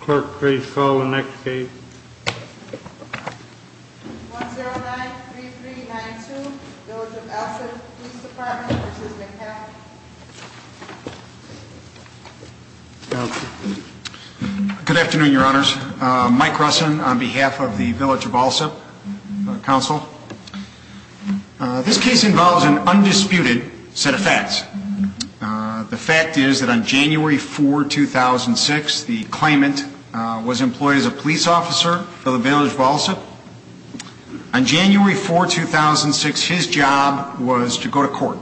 Clerk, please call the next case. 1093392, Village of Alsip Police Dept. v. McCaffrey. Good afternoon, Your Honors. Mike Russin on behalf of the Village of Alsip Council. This case involves an undisputed set of facts. The fact is that on January 4, 2006, the claimant was employed as a police officer for the Village of Alsip. On January 4, 2006, his job was to go to court.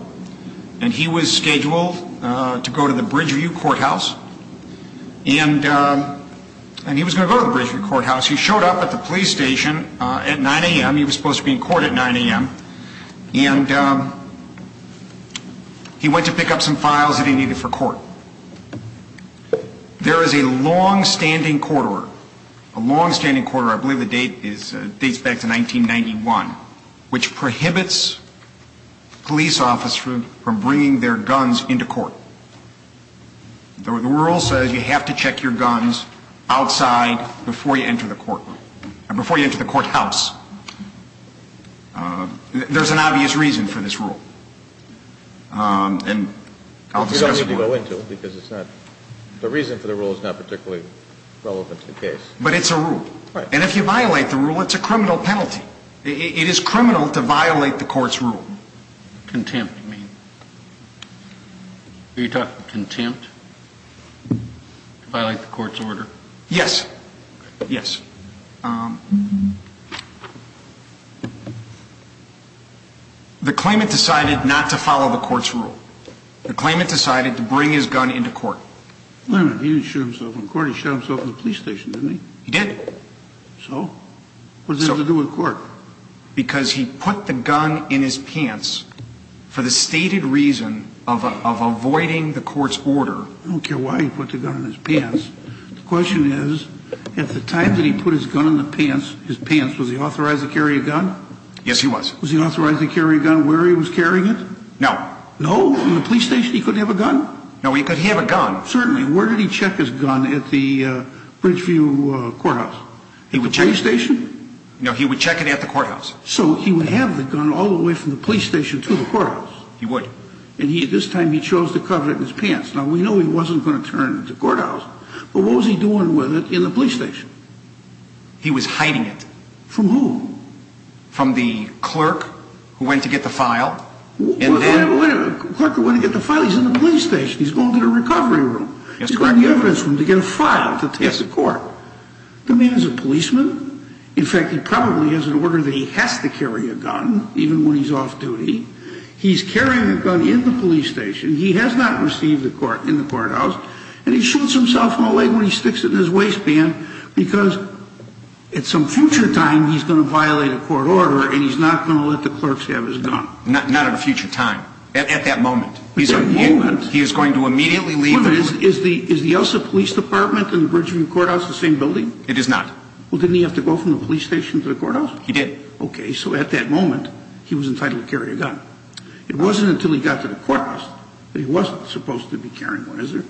And he was scheduled to go to the Bridgeview Courthouse. And he was going to go to the Bridgeview Courthouse. He showed up at the police station at 9 a.m. He was supposed to be in court at 9 a.m. And he went to pick up some files that he needed for court. There is a long-standing quarter, a long-standing quarter, I believe the date dates back to 1991, which prohibits police officers from bringing their guns into court. The rule says you have to check your guns outside before you enter the courthouse. There's an obvious reason for this rule. And I'll discuss it more. You don't need to go into it because it's not – the reason for the rule is not particularly relevant to the case. But it's a rule. Right. And if you violate the rule, it's a criminal penalty. It is criminal to violate the court's rule. Contempt, you mean. Are you talking contempt to violate the court's order? Yes. Yes. The claimant decided not to follow the court's rule. The claimant decided to bring his gun into court. He didn't shoot himself in court. He shot himself in the police station, didn't he? He did. So? What does that have to do with court? Because he put the gun in his pants for the stated reason of avoiding the court's order. I don't care why he put the gun in his pants. The question is, at the time that he put his gun in the pants, his pants, was he authorized to carry a gun? Yes, he was. Was he authorized to carry a gun where he was carrying it? No. No? In the police station he couldn't have a gun? No, he could have a gun. Certainly. Where did he check his gun at the Bridgeview Courthouse? He would check – The police station? No, he would check it at the courthouse. So he would have the gun all the way from the police station to the courthouse? He would. And this time he chose to cover it in his pants. Now, we know he wasn't going to turn it into courthouse, but what was he doing with it in the police station? He was hiding it. From whom? From the clerk who went to get the file. Wait a minute. The clerk who went to get the file? He's in the police station. He's going to the recovery room. He's going to the evidence room to get a file to test the court. The man's a policeman. In fact, he probably has an order that he has to carry a gun, even when he's off duty. He's carrying a gun in the police station. He has not received it in the courthouse. And he shoots himself in the leg when he sticks it in his waistband because at some future time he's going to violate a court order and he's not going to let the clerks have his gun. Not at a future time. At that moment. At that moment. He is going to immediately leave the room. Wait a minute. Is the Elsa Police Department and the Bridgeview Courthouse the same building? It is not. Well, didn't he have to go from the police station to the courthouse? He did. Okay. So at that moment, he was entitled to carry a gun. It wasn't until he got to the courthouse that he wasn't supposed to be carrying one, is there?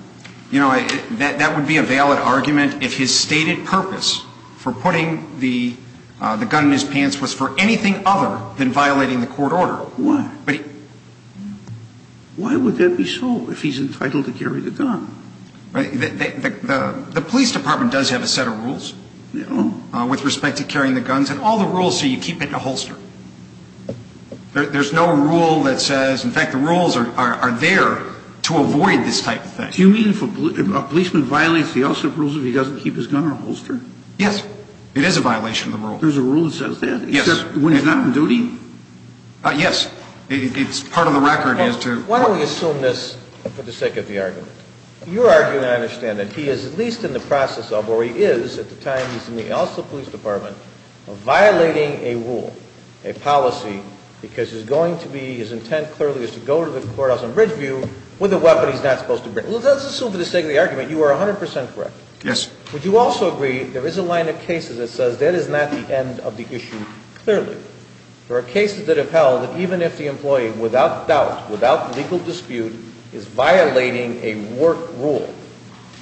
You know, that would be a valid argument if his stated purpose for putting the gun in his pants was for anything other than violating the court order. Why? Why would that be so if he's entitled to carry the gun? The police department does have a set of rules with respect to carrying the guns. And all the rules say you keep it in a holster. There's no rule that says, in fact, the rules are there to avoid this type of thing. Do you mean if a policeman violates the Elsa rules if he doesn't keep his gun in a holster? Yes. It is a violation of the rules. There's a rule that says that? Yes. Except when he's not on duty? Yes. It's part of the record as to – Why don't we assume this for the sake of the argument? Your argument, I understand, that he is at least in the process of, or he is at the time he's in the Elsa police department, of violating a rule, a policy, because he's going to be – his intent clearly is to go to the courthouse in Ridgeview with a weapon he's not supposed to bring. Let's assume for the sake of the argument you are 100 percent correct. Yes. Would you also agree there is a line of cases that says that is not the end of the issue clearly? There are cases that have held that even if the employee, without doubt, without legal dispute, is violating a work rule,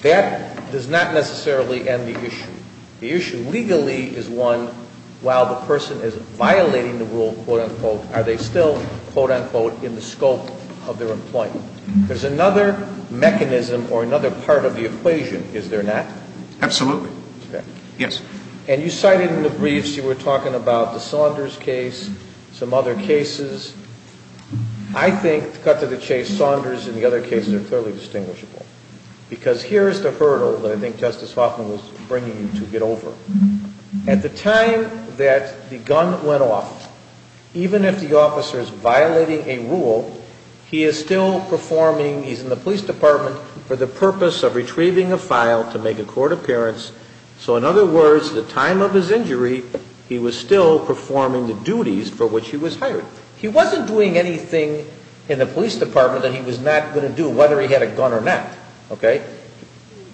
that does not necessarily end the issue. The issue legally is one, while the person is violating the rule, quote, unquote, are they still, quote, unquote, in the scope of their employment? There's another mechanism or another part of the equation, is there not? Absolutely. Okay. Yes. And you cited in the briefs you were talking about the Saunders case, some other cases. I think, cut to the chase, Saunders and the other cases are clearly distinguishable, because here is the hurdle that I think Justice Hoffman was bringing you to get over. At the time that the gun went off, even if the officer is violating a rule, he is still performing – he's in the police department for the purpose of retrieving a file to make a court appearance. So, in other words, at the time of his injury, he was still performing the duties for which he was hired. He wasn't doing anything in the police department that he was not going to do, whether he had a gun or not. Okay?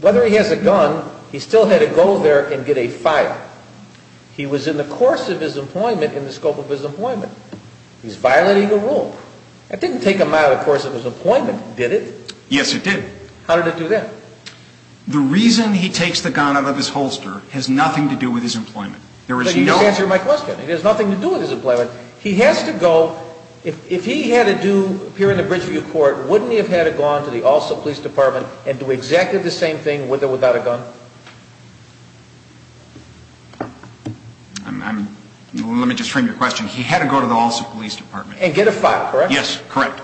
Whether he has a gun, he still had to go there and get a file. He was in the course of his employment in the scope of his employment. He's violating a rule. That didn't take him out of the course of his employment, did it? Yes, it did. How did it do that? The reason he takes the gun out of his holster has nothing to do with his employment. There is no – But you just answered my question. It has nothing to do with his employment. He has to go – if he had to do – appear in a bridgeview court, wouldn't he have had to go on to the also police department and do exactly the same thing with or without a gun? I'm – let me just frame your question. He had to go to the also police department. And get a file, correct? Yes, correct.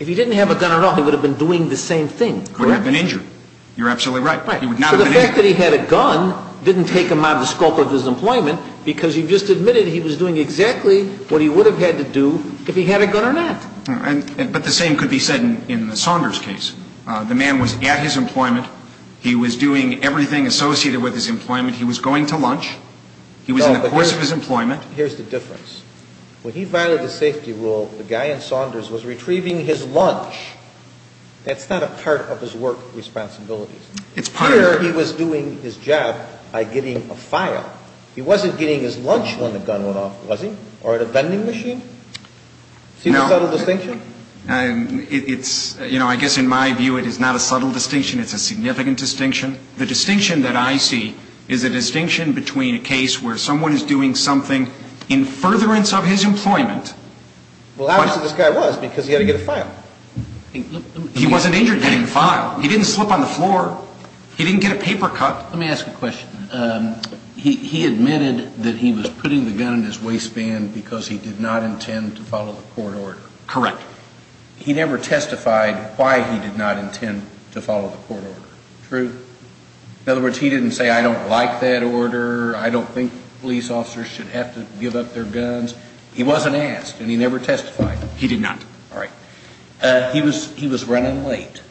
If he didn't have a gun at all, he would have been doing the same thing, correct? Would have been injured. You're absolutely right. He would not have been injured. So the fact that he had a gun didn't take him out of the scope of his employment because you just admitted he was doing exactly what he would have had to do if he had a gun or not. But the same could be said in the Saunders case. The man was at his employment. He was doing everything associated with his employment. He was going to lunch. He was in the course of his employment. Here's the difference. When he violated the safety rule, the guy in Saunders was retrieving his lunch. That's not a part of his work responsibilities. It's part of it. Here he was doing his job by getting a file. He wasn't getting his lunch when the gun went off, was he? Or at a vending machine? No. See the subtle distinction? It's – you know, I guess in my view it is not a subtle distinction. It's a significant distinction. The distinction that I see is a distinction between a case where someone is doing something in furtherance of his employment. Well, obviously this guy was because he had to get a file. He wasn't injured getting a file. He didn't slip on the floor. He didn't get a paper cut. Let me ask you a question. He admitted that he was putting the gun in his waistband because he did not intend to follow the court order. Correct. He never testified why he did not intend to follow the court order. True? In other words, he didn't say, I don't like that order. I don't think police officers should have to give up their guns. He wasn't asked, and he never testified. He did not. All right. He was running late,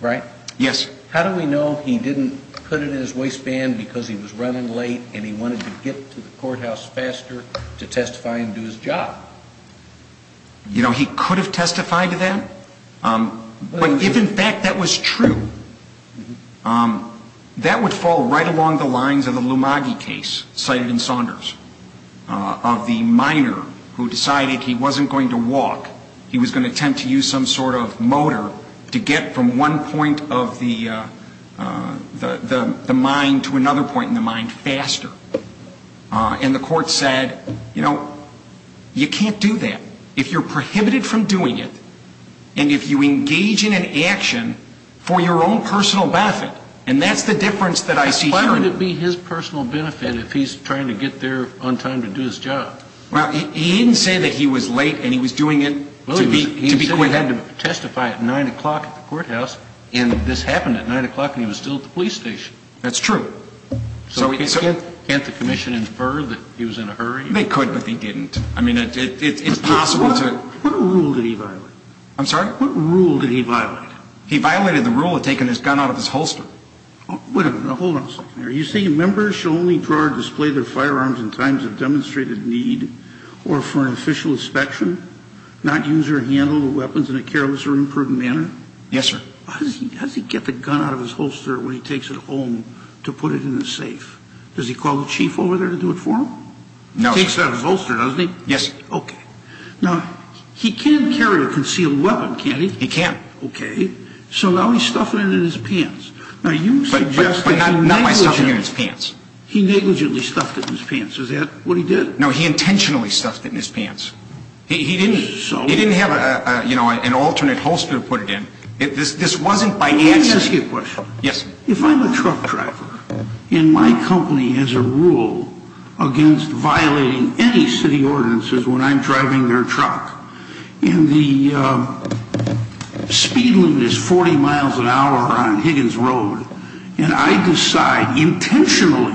right? Yes. How do we know he didn't put it in his waistband because he was running late and he wanted to get to the courthouse faster to testify and do his job? You know, he could have testified to that. If, in fact, that was true, that would fall right along the lines of the Lumagi case cited in Saunders of the minor who decided he wasn't going to walk. He was going to attempt to use some sort of motor to get from one point of the mind to another point in the mind faster. And the court said, you know, you can't do that. If you're prohibited from doing it and if you engage in an action for your own personal benefit, and that's the difference that I see here. Why would it be his personal benefit if he's trying to get there on time to do his job? Well, he didn't say that he was late and he was doing it to be quick. He said he had to testify at 9 o'clock at the courthouse, and this happened at 9 o'clock and he was still at the police station. That's true. So can't the commission infer that he was in a hurry? They could, but they didn't. I mean, it's possible to. What rule did he violate? I'm sorry? What rule did he violate? He violated the rule of taking his gun out of his holster. Wait a minute. Hold on a second here. Are you saying members shall only draw or display their firearms in times of demonstrated need or for an official inspection, not use or handle the weapons in a careless or imprudent manner? Yes, sir. How does he get the gun out of his holster when he takes it home to put it in the safe? Does he call the chief over there to do it for him? No, sir. He gets the gun out of his holster, doesn't he? Yes, sir. Okay. Now, he can carry a concealed weapon, can't he? He can. Okay. So now he's stuffing it in his pants. Now, you suggest that he negligently stuffed it in his pants. He negligently stuffed it in his pants. Is that what he did? No, he intentionally stuffed it in his pants. He didn't have an alternate holster to put it in. This wasn't by accident. Let me ask you a question. Yes, sir. If I'm a truck driver and my company has a rule against violating any city ordinances when I'm driving their truck, and the speed limit is 40 miles an hour on Higgins Road, and I decide intentionally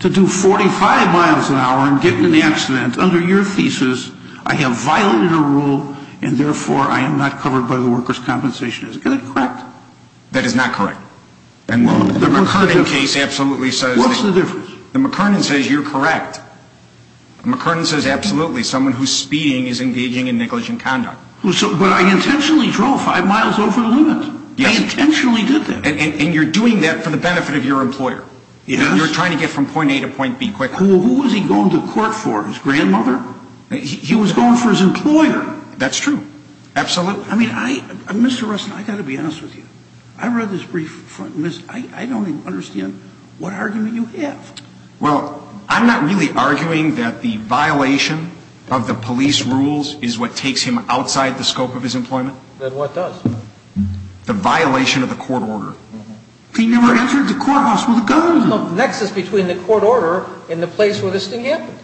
to do 45 miles an hour and get in an accident under your thesis, I have violated a rule and, therefore, I am not covered by the workers' compensation. Is that correct? That is not correct. And the McKernan case absolutely says that. What's the difference? The McKernan says you're correct. The McKernan says, absolutely, someone who's speeding is engaging in negligent conduct. But I intentionally drove five miles over the limit. Yes. I intentionally did that. And you're doing that for the benefit of your employer. Yes. You're trying to get from point A to point B quickly. Who was he going to court for, his grandmother? He was going for his employer. That's true. Absolutely. Well, I mean, Mr. Russell, I've got to be honest with you. I read this brief, and I don't even understand what argument you have. Well, I'm not really arguing that the violation of the police rules is what takes him outside the scope of his employment. Then what does? The violation of the court order. He never entered the courthouse with a gun. There's no nexus between the court order and the place where this thing happened.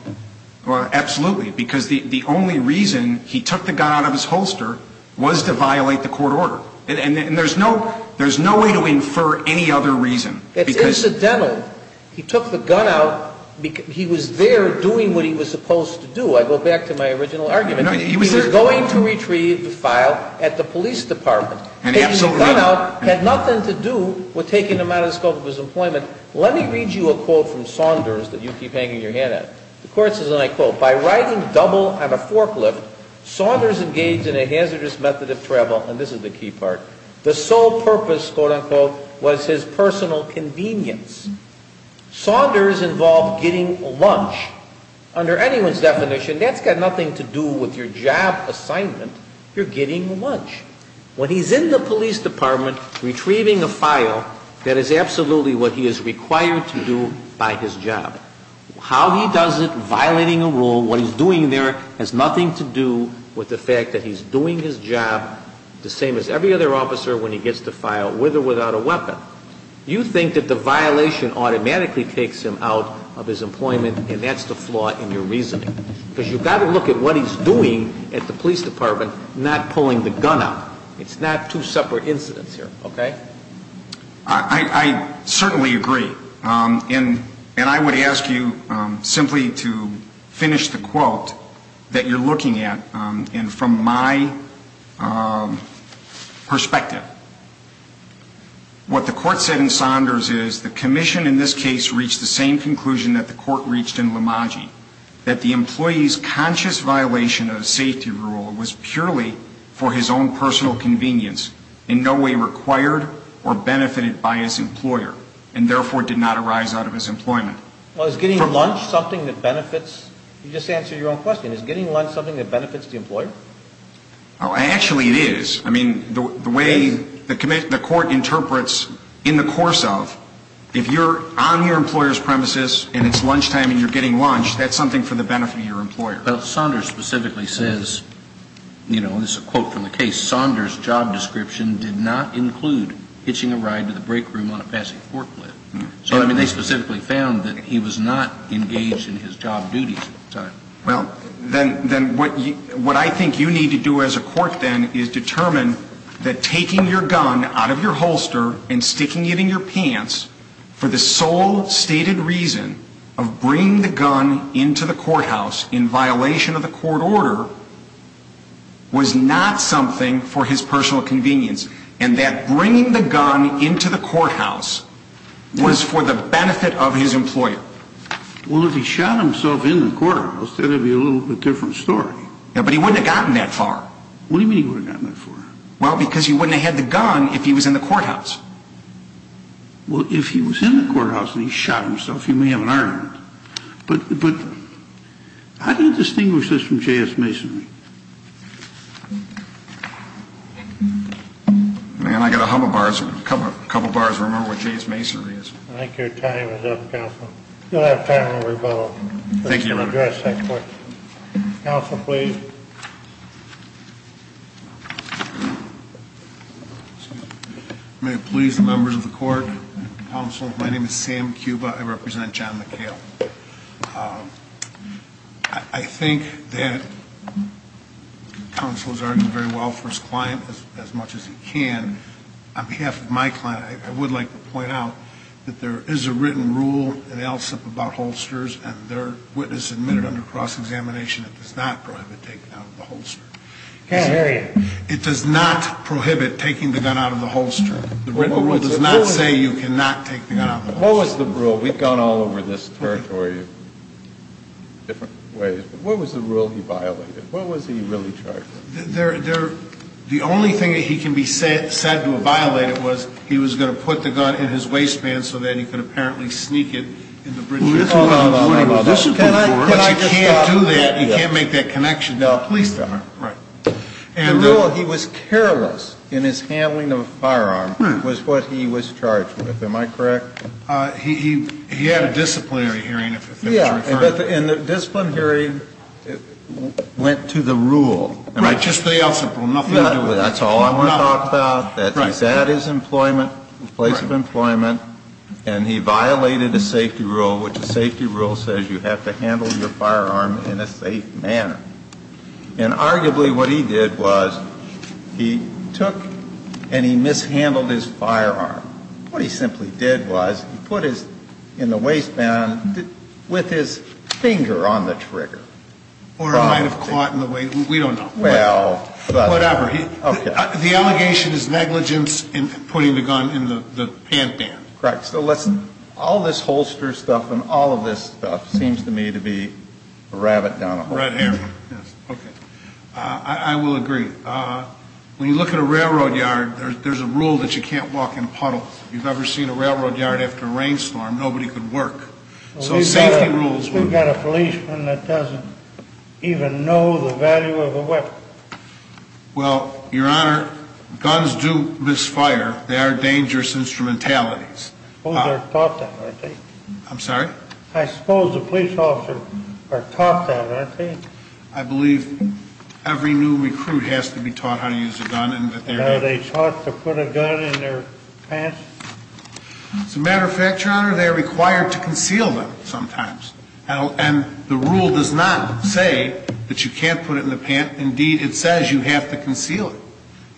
Well, absolutely, because the only reason he took the gun out of his holster was to violate the court order. And there's no way to infer any other reason. It's incidental. He took the gun out. He was there doing what he was supposed to do. I go back to my original argument. He was going to retrieve the file at the police department. And absolutely. Taking the gun out had nothing to do with taking him out of the scope of his employment. Let me read you a quote from Saunders that you keep hanging your head at. The court says, and I quote, By riding double on a forklift, Saunders engaged in a hazardous method of travel. And this is the key part. The sole purpose, quote, unquote, was his personal convenience. Saunders involved getting lunch. Under anyone's definition, that's got nothing to do with your job assignment. You're getting lunch. When he's in the police department retrieving a file, that is absolutely what he is required to do by his job. How he does it, violating a rule, what he's doing there has nothing to do with the fact that he's doing his job the same as every other officer when he gets the file, with or without a weapon. You think that the violation automatically takes him out of his employment, and that's the flaw in your reasoning. Because you've got to look at what he's doing at the police department, not pulling the gun out. It's not two separate incidents here, okay? I certainly agree. And I would ask you simply to finish the quote that you're looking at. And from my perspective, what the court said in Saunders is the commission in this case reached the same conclusion that the court reached in Lamaggi, that the employee's conscious violation of a safety rule was purely for his own personal convenience, in no way required or benefited by his employer, and therefore did not arise out of his employment. Well, is getting lunch something that benefits? You just answered your own question. Is getting lunch something that benefits the employer? Actually, it is. I mean, the way the court interprets in the course of, if you're on your employer's premises and it's lunchtime and you're getting lunch, that's something for the benefit of your employer. Saunders specifically says, you know, this is a quote from the case, Saunders' job description did not include hitching a ride to the break room on a passing forklift. So, I mean, they specifically found that he was not engaged in his job duties at the time. Well, then what I think you need to do as a court then is determine that taking your gun out of your holster and sticking it in your pants for the sole stated reason of bringing the gun into the courthouse in violation of the court order was not something for his personal convenience, and that bringing the gun into the courthouse was for the benefit of his employer. Well, if he shot himself in the courthouse, that would be a little bit different story. Yeah, but he wouldn't have gotten that far. What do you mean he wouldn't have gotten that far? Well, because he wouldn't have had the gun if he was in the courthouse. Well, if he was in the courthouse and he shot himself, he may have an argument. But how do you distinguish this from J.S. Masonry? Man, I've got a couple of bars to remember what J.S. Masonry is. I think your time is up, counsel. You'll have time to rebuttal. Thank you, Your Honor. Counsel, please. May it please the members of the court, counsel, my name is Sam Cuba. I represent John McHale. I think that counsel has argued very well for his client as much as he can. On behalf of my client, I would like to point out that there is a written rule in LSIP about holsters and their witness admitted under cross-examination it does not prohibit taking out of the holster. I can't hear you. It does not prohibit taking the gun out of the holster. The written rule does not say you cannot take the gun out of the holster. What was the rule? We've gone all over this territory in different ways. What was the rule he violated? What was he really charged with? The only thing that he can be said to have violated was he was going to put the gun in his waistband so then he could apparently sneak it in the bridge. Hold on, hold on. Can I just stop? He can't do that. He can't make that connection. No, please don't. Right. The rule, he was careless in his handling of the firearm was what he was charged with. Am I correct? He had a disciplinary hearing if it was referred. But in the disciplinary hearing, it went to the rule. Right. Just the else, nothing to do with it. That's all I want to talk about. Right. That is employment, place of employment. Right. And he violated a safety rule which a safety rule says you have to handle your firearm in a safe manner. And arguably what he did was he took and he mishandled his firearm. What he simply did was he put his in the waistband with his finger on the trigger. Or it might have caught in the way. We don't know. Well. Whatever. The allegation is negligence in putting the gun in the pant band. Correct. So listen, all this holster stuff and all of this stuff seems to me to be a rabbit down a hole. Red hair. Yes. Okay. I will agree. When you look at a railroad yard, there's a rule that you can't walk in a puddle. If you've ever seen a railroad yard after a rainstorm, nobody could work. So safety rules. We've got a policeman that doesn't even know the value of a weapon. Well, Your Honor, guns do misfire. They are dangerous instrumentalities. I suppose they're taught that, aren't they? I'm sorry? I suppose the police officers are taught that, aren't they? I believe every new recruit has to be taught how to use a gun. Are they taught to put a gun in their pants? As a matter of fact, Your Honor, they are required to conceal them sometimes. And the rule does not say that you can't put it in the pant. Indeed, it says you have to conceal it.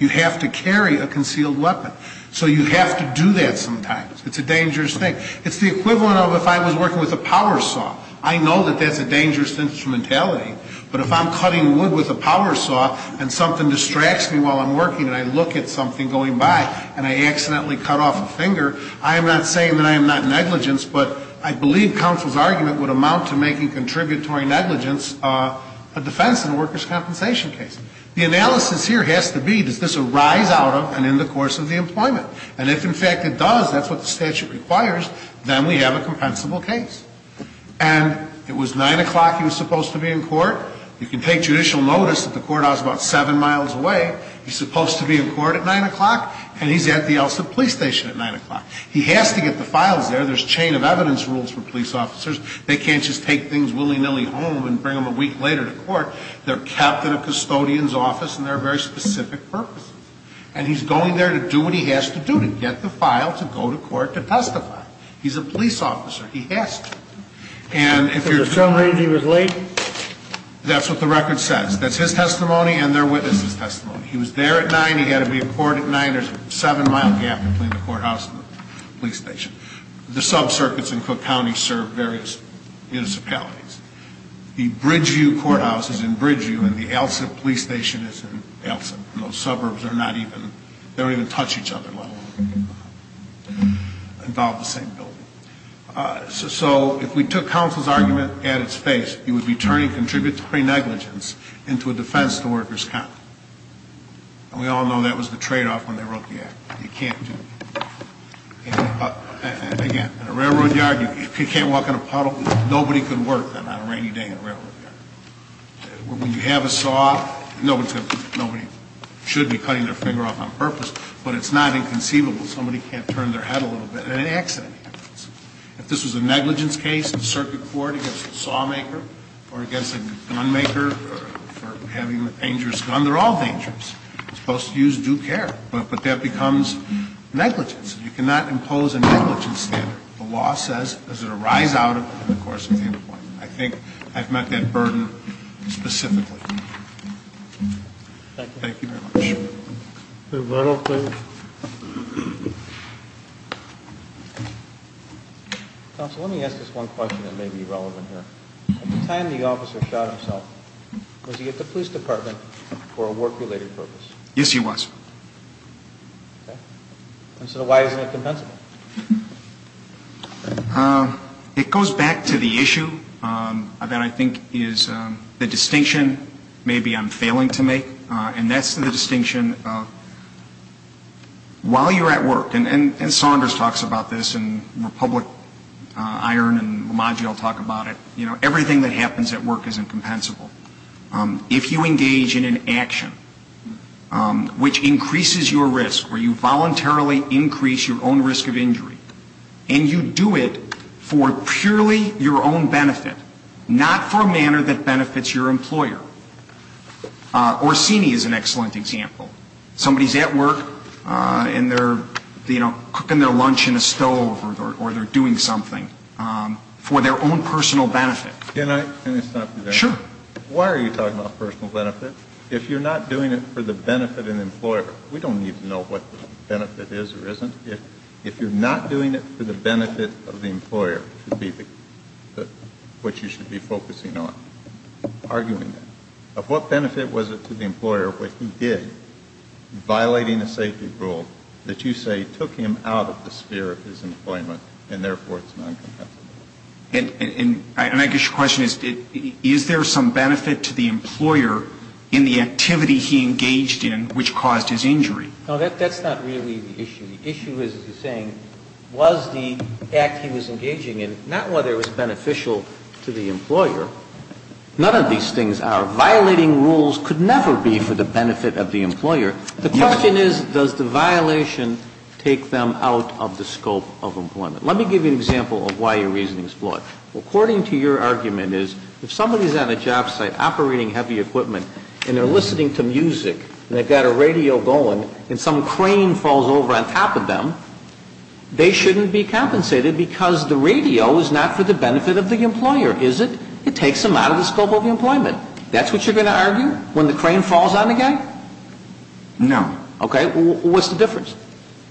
You have to carry a concealed weapon. So you have to do that sometimes. It's a dangerous thing. It's the equivalent of if I was working with a power saw. I know that that's a dangerous instrumentality. But if I'm cutting wood with a power saw and something distracts me while I'm working and I look at something going by and I accidentally cut off a finger, I am not saying that I am not negligent, but I believe counsel's argument would amount to making contributory negligence a defense in a workers' compensation case. The analysis here has to be, does this arise out of and in the course of the employment? And if, in fact, it does, that's what the statute requires, then we have a compensable case. And it was 9 o'clock he was supposed to be in court. You can take judicial notice that the courthouse is about 7 miles away. He's supposed to be in court at 9 o'clock, and he's at the Elson Police Station at 9 o'clock. He has to get the files there. There's a chain of evidence rules for police officers. They can't just take things willy-nilly home and bring them a week later to court. They're kept in a custodian's office, and they're a very specific purpose. And he's going there to do what he has to do to get the file to go to court to testify. He's a police officer. He has to. And if you're too late. So there's some reason he was late? That's what the record says. That's his testimony and their witness' testimony. He was there at 9. He had to be in court at 9. There's a 7-mile gap between the courthouse and the police station. The subcircuits in Cook County serve various municipalities. The Bridgeview Courthouse is in Bridgeview, and the Elson Police Station is in Elson. Those suburbs are not even, they don't even touch each other. They don't involve the same building. So if we took counsel's argument at its face, it would be turning contributory negligence into a defense to workers' count. And we all know that was the tradeoff when they wrote the act. You can't do that. Again, in a railroad yard, if you can't walk in a puddle, nobody can work on a rainy day in a railroad yard. When you have a saw, nobody should be cutting their finger off on purpose, but it's not inconceivable. Somebody can't turn their head a little bit, and an accident happens. If this was a negligence case in circuit court against a sawmaker or against a gunmaker for having a dangerous gun, they're all dangerous. You're supposed to use due care, but that becomes negligence. You cannot impose a negligence standard. The law says, does it arise out of it? And, of course, it's the other one. I think I've met that burden specifically. Thank you very much. Mr. Reynolds, please. Counsel, let me ask this one question that may be relevant here. At the time the officer shot himself, was he at the police department for a work-related purpose? Yes, he was. Okay. And so why isn't it compensable? It goes back to the issue that I think is the distinction maybe I'm failing to make, and that's the distinction of while you're at work, and Saunders talks about this, and Republic, Iron, and Ramaji all talk about it, you know, everything that happens at work is incompensable. If you engage in an action which increases your risk, where you voluntarily increase your own risk of injury, and you do it for purely your own benefit, not for a manner that benefits your employer. Orsini is an excellent example. Somebody's at work and they're, you know, cooking their lunch in a stove or they're doing something for their own personal benefit. Can I stop you there? Sure. Why are you talking about personal benefit? If you're not doing it for the benefit of the employer, we don't need to know what the benefit is or isn't. If you're not doing it for the benefit of the employer, which you should be focusing on, arguing that, of what benefit was it to the employer what he did, violating a safety rule that you say took him out of the sphere of his employment and therefore it's not compensable? And I guess your question is, is there some benefit to the employer in the activity he engaged in which caused his injury? No, that's not really the issue. The issue is, as you're saying, was the act he was engaging in, not whether it was beneficial to the employer. None of these things are. Violating rules could never be for the benefit of the employer. The question is, does the violation take them out of the scope of employment? Let me give you an example of why your reasoning is flawed. According to your argument is, if somebody's on a job site operating heavy equipment and they're listening to music and they've got a radio going and some crane falls over on top of them, they shouldn't be compensated because the radio is not for the benefit of the employer, is it? It takes them out of the scope of employment. That's what you're going to argue? When the crane falls on the guy? No. Okay. What's the difference?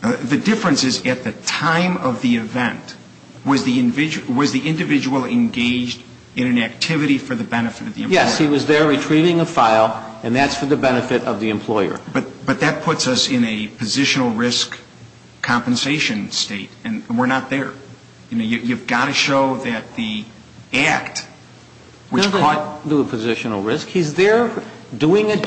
The difference is, at the time of the event, was the individual engaged in an activity for the benefit of the employer? Yes. He was there retrieving a file, and that's for the benefit of the employer. But that puts us in a positional risk compensation state, and we're not there. You've got to show that the act, which caused... He doesn't do a positional risk. He's there doing an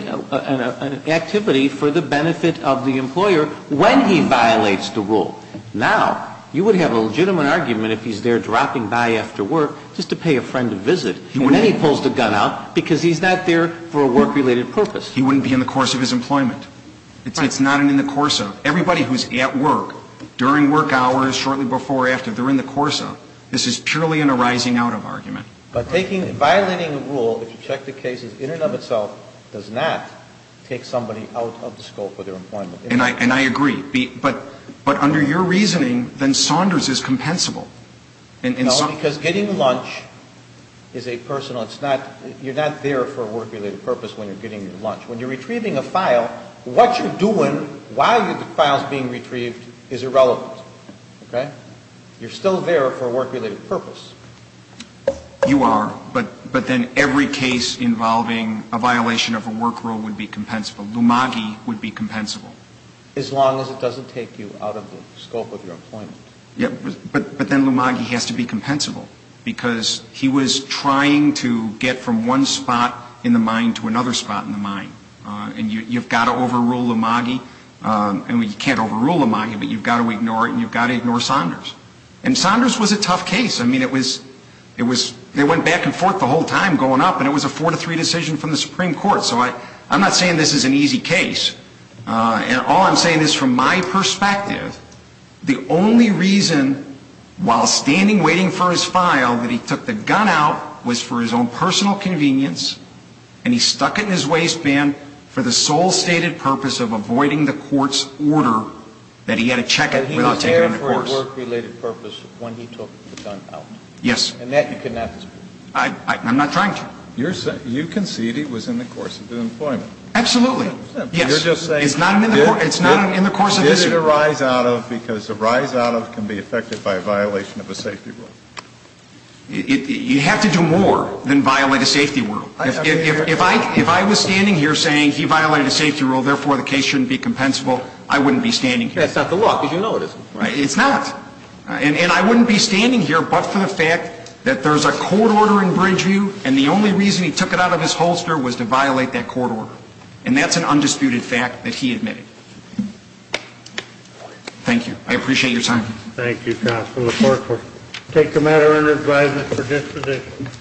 activity for the benefit of the employer when he violates the rule. Now, you would have a legitimate argument if he's there dropping by after work just to pay a friend a visit, and then he pulls the gun out because he's not there for a work-related purpose. He wouldn't be in the course of his employment. It's not in the course of. Everybody who's at work, during work hours, shortly before or after, they're in the course of. This is purely in a rising out of argument. But violating the rule, if you check the cases, in and of itself does not take somebody out of the scope of their employment. And I agree. But under your reasoning, then Saunders is compensable. No, because getting lunch is a personal. You're not there for a work-related purpose when you're getting your lunch. When you're retrieving a file, what you're doing while the file's being retrieved is irrelevant. Okay? You're still there for a work-related purpose. You are. But then every case involving a violation of a work rule would be compensable. Lumagi would be compensable. As long as it doesn't take you out of the scope of your employment. Yeah. But then Lumagi has to be compensable because he was trying to get from one spot in the mine to another spot in the mine. And you've got to overrule Lumagi. I mean, you can't overrule Lumagi, but you've got to ignore it, and you've got to ignore Saunders. And Saunders was a tough case. I mean, it was they went back and forth the whole time going up, and it was a four-to-three decision from the Supreme Court. So I'm not saying this is an easy case. And all I'm saying is from my perspective, the only reason while standing waiting for his file that he took the gun out was for his own personal convenience, and he stuck it in his waistband for the sole stated purpose of avoiding the court's order that he had to check it without taking it into court. I'm saying that he took the gun out for a work-related purpose when he took the gun out. Yes. And that you cannot dispute. I'm not trying to. You concede he was in the course of the employment. Absolutely. You're just saying. It's not in the course of this. Did it arise out of because the rise out of can be affected by a violation of a safety rule. You have to do more than violate a safety rule. If I was standing here saying he violated a safety rule, therefore the case shouldn't be compensable, I wouldn't be standing here. That's not the law, because you know it isn't. It's not. And I wouldn't be standing here but for the fact that there's a court order in Bridgeview, and the only reason he took it out of his holster was to violate that court order. And that's an undisputed fact that he admitted. Thank you. I appreciate your time. Thank you, counsel. The court will take the matter under advisement for disposition.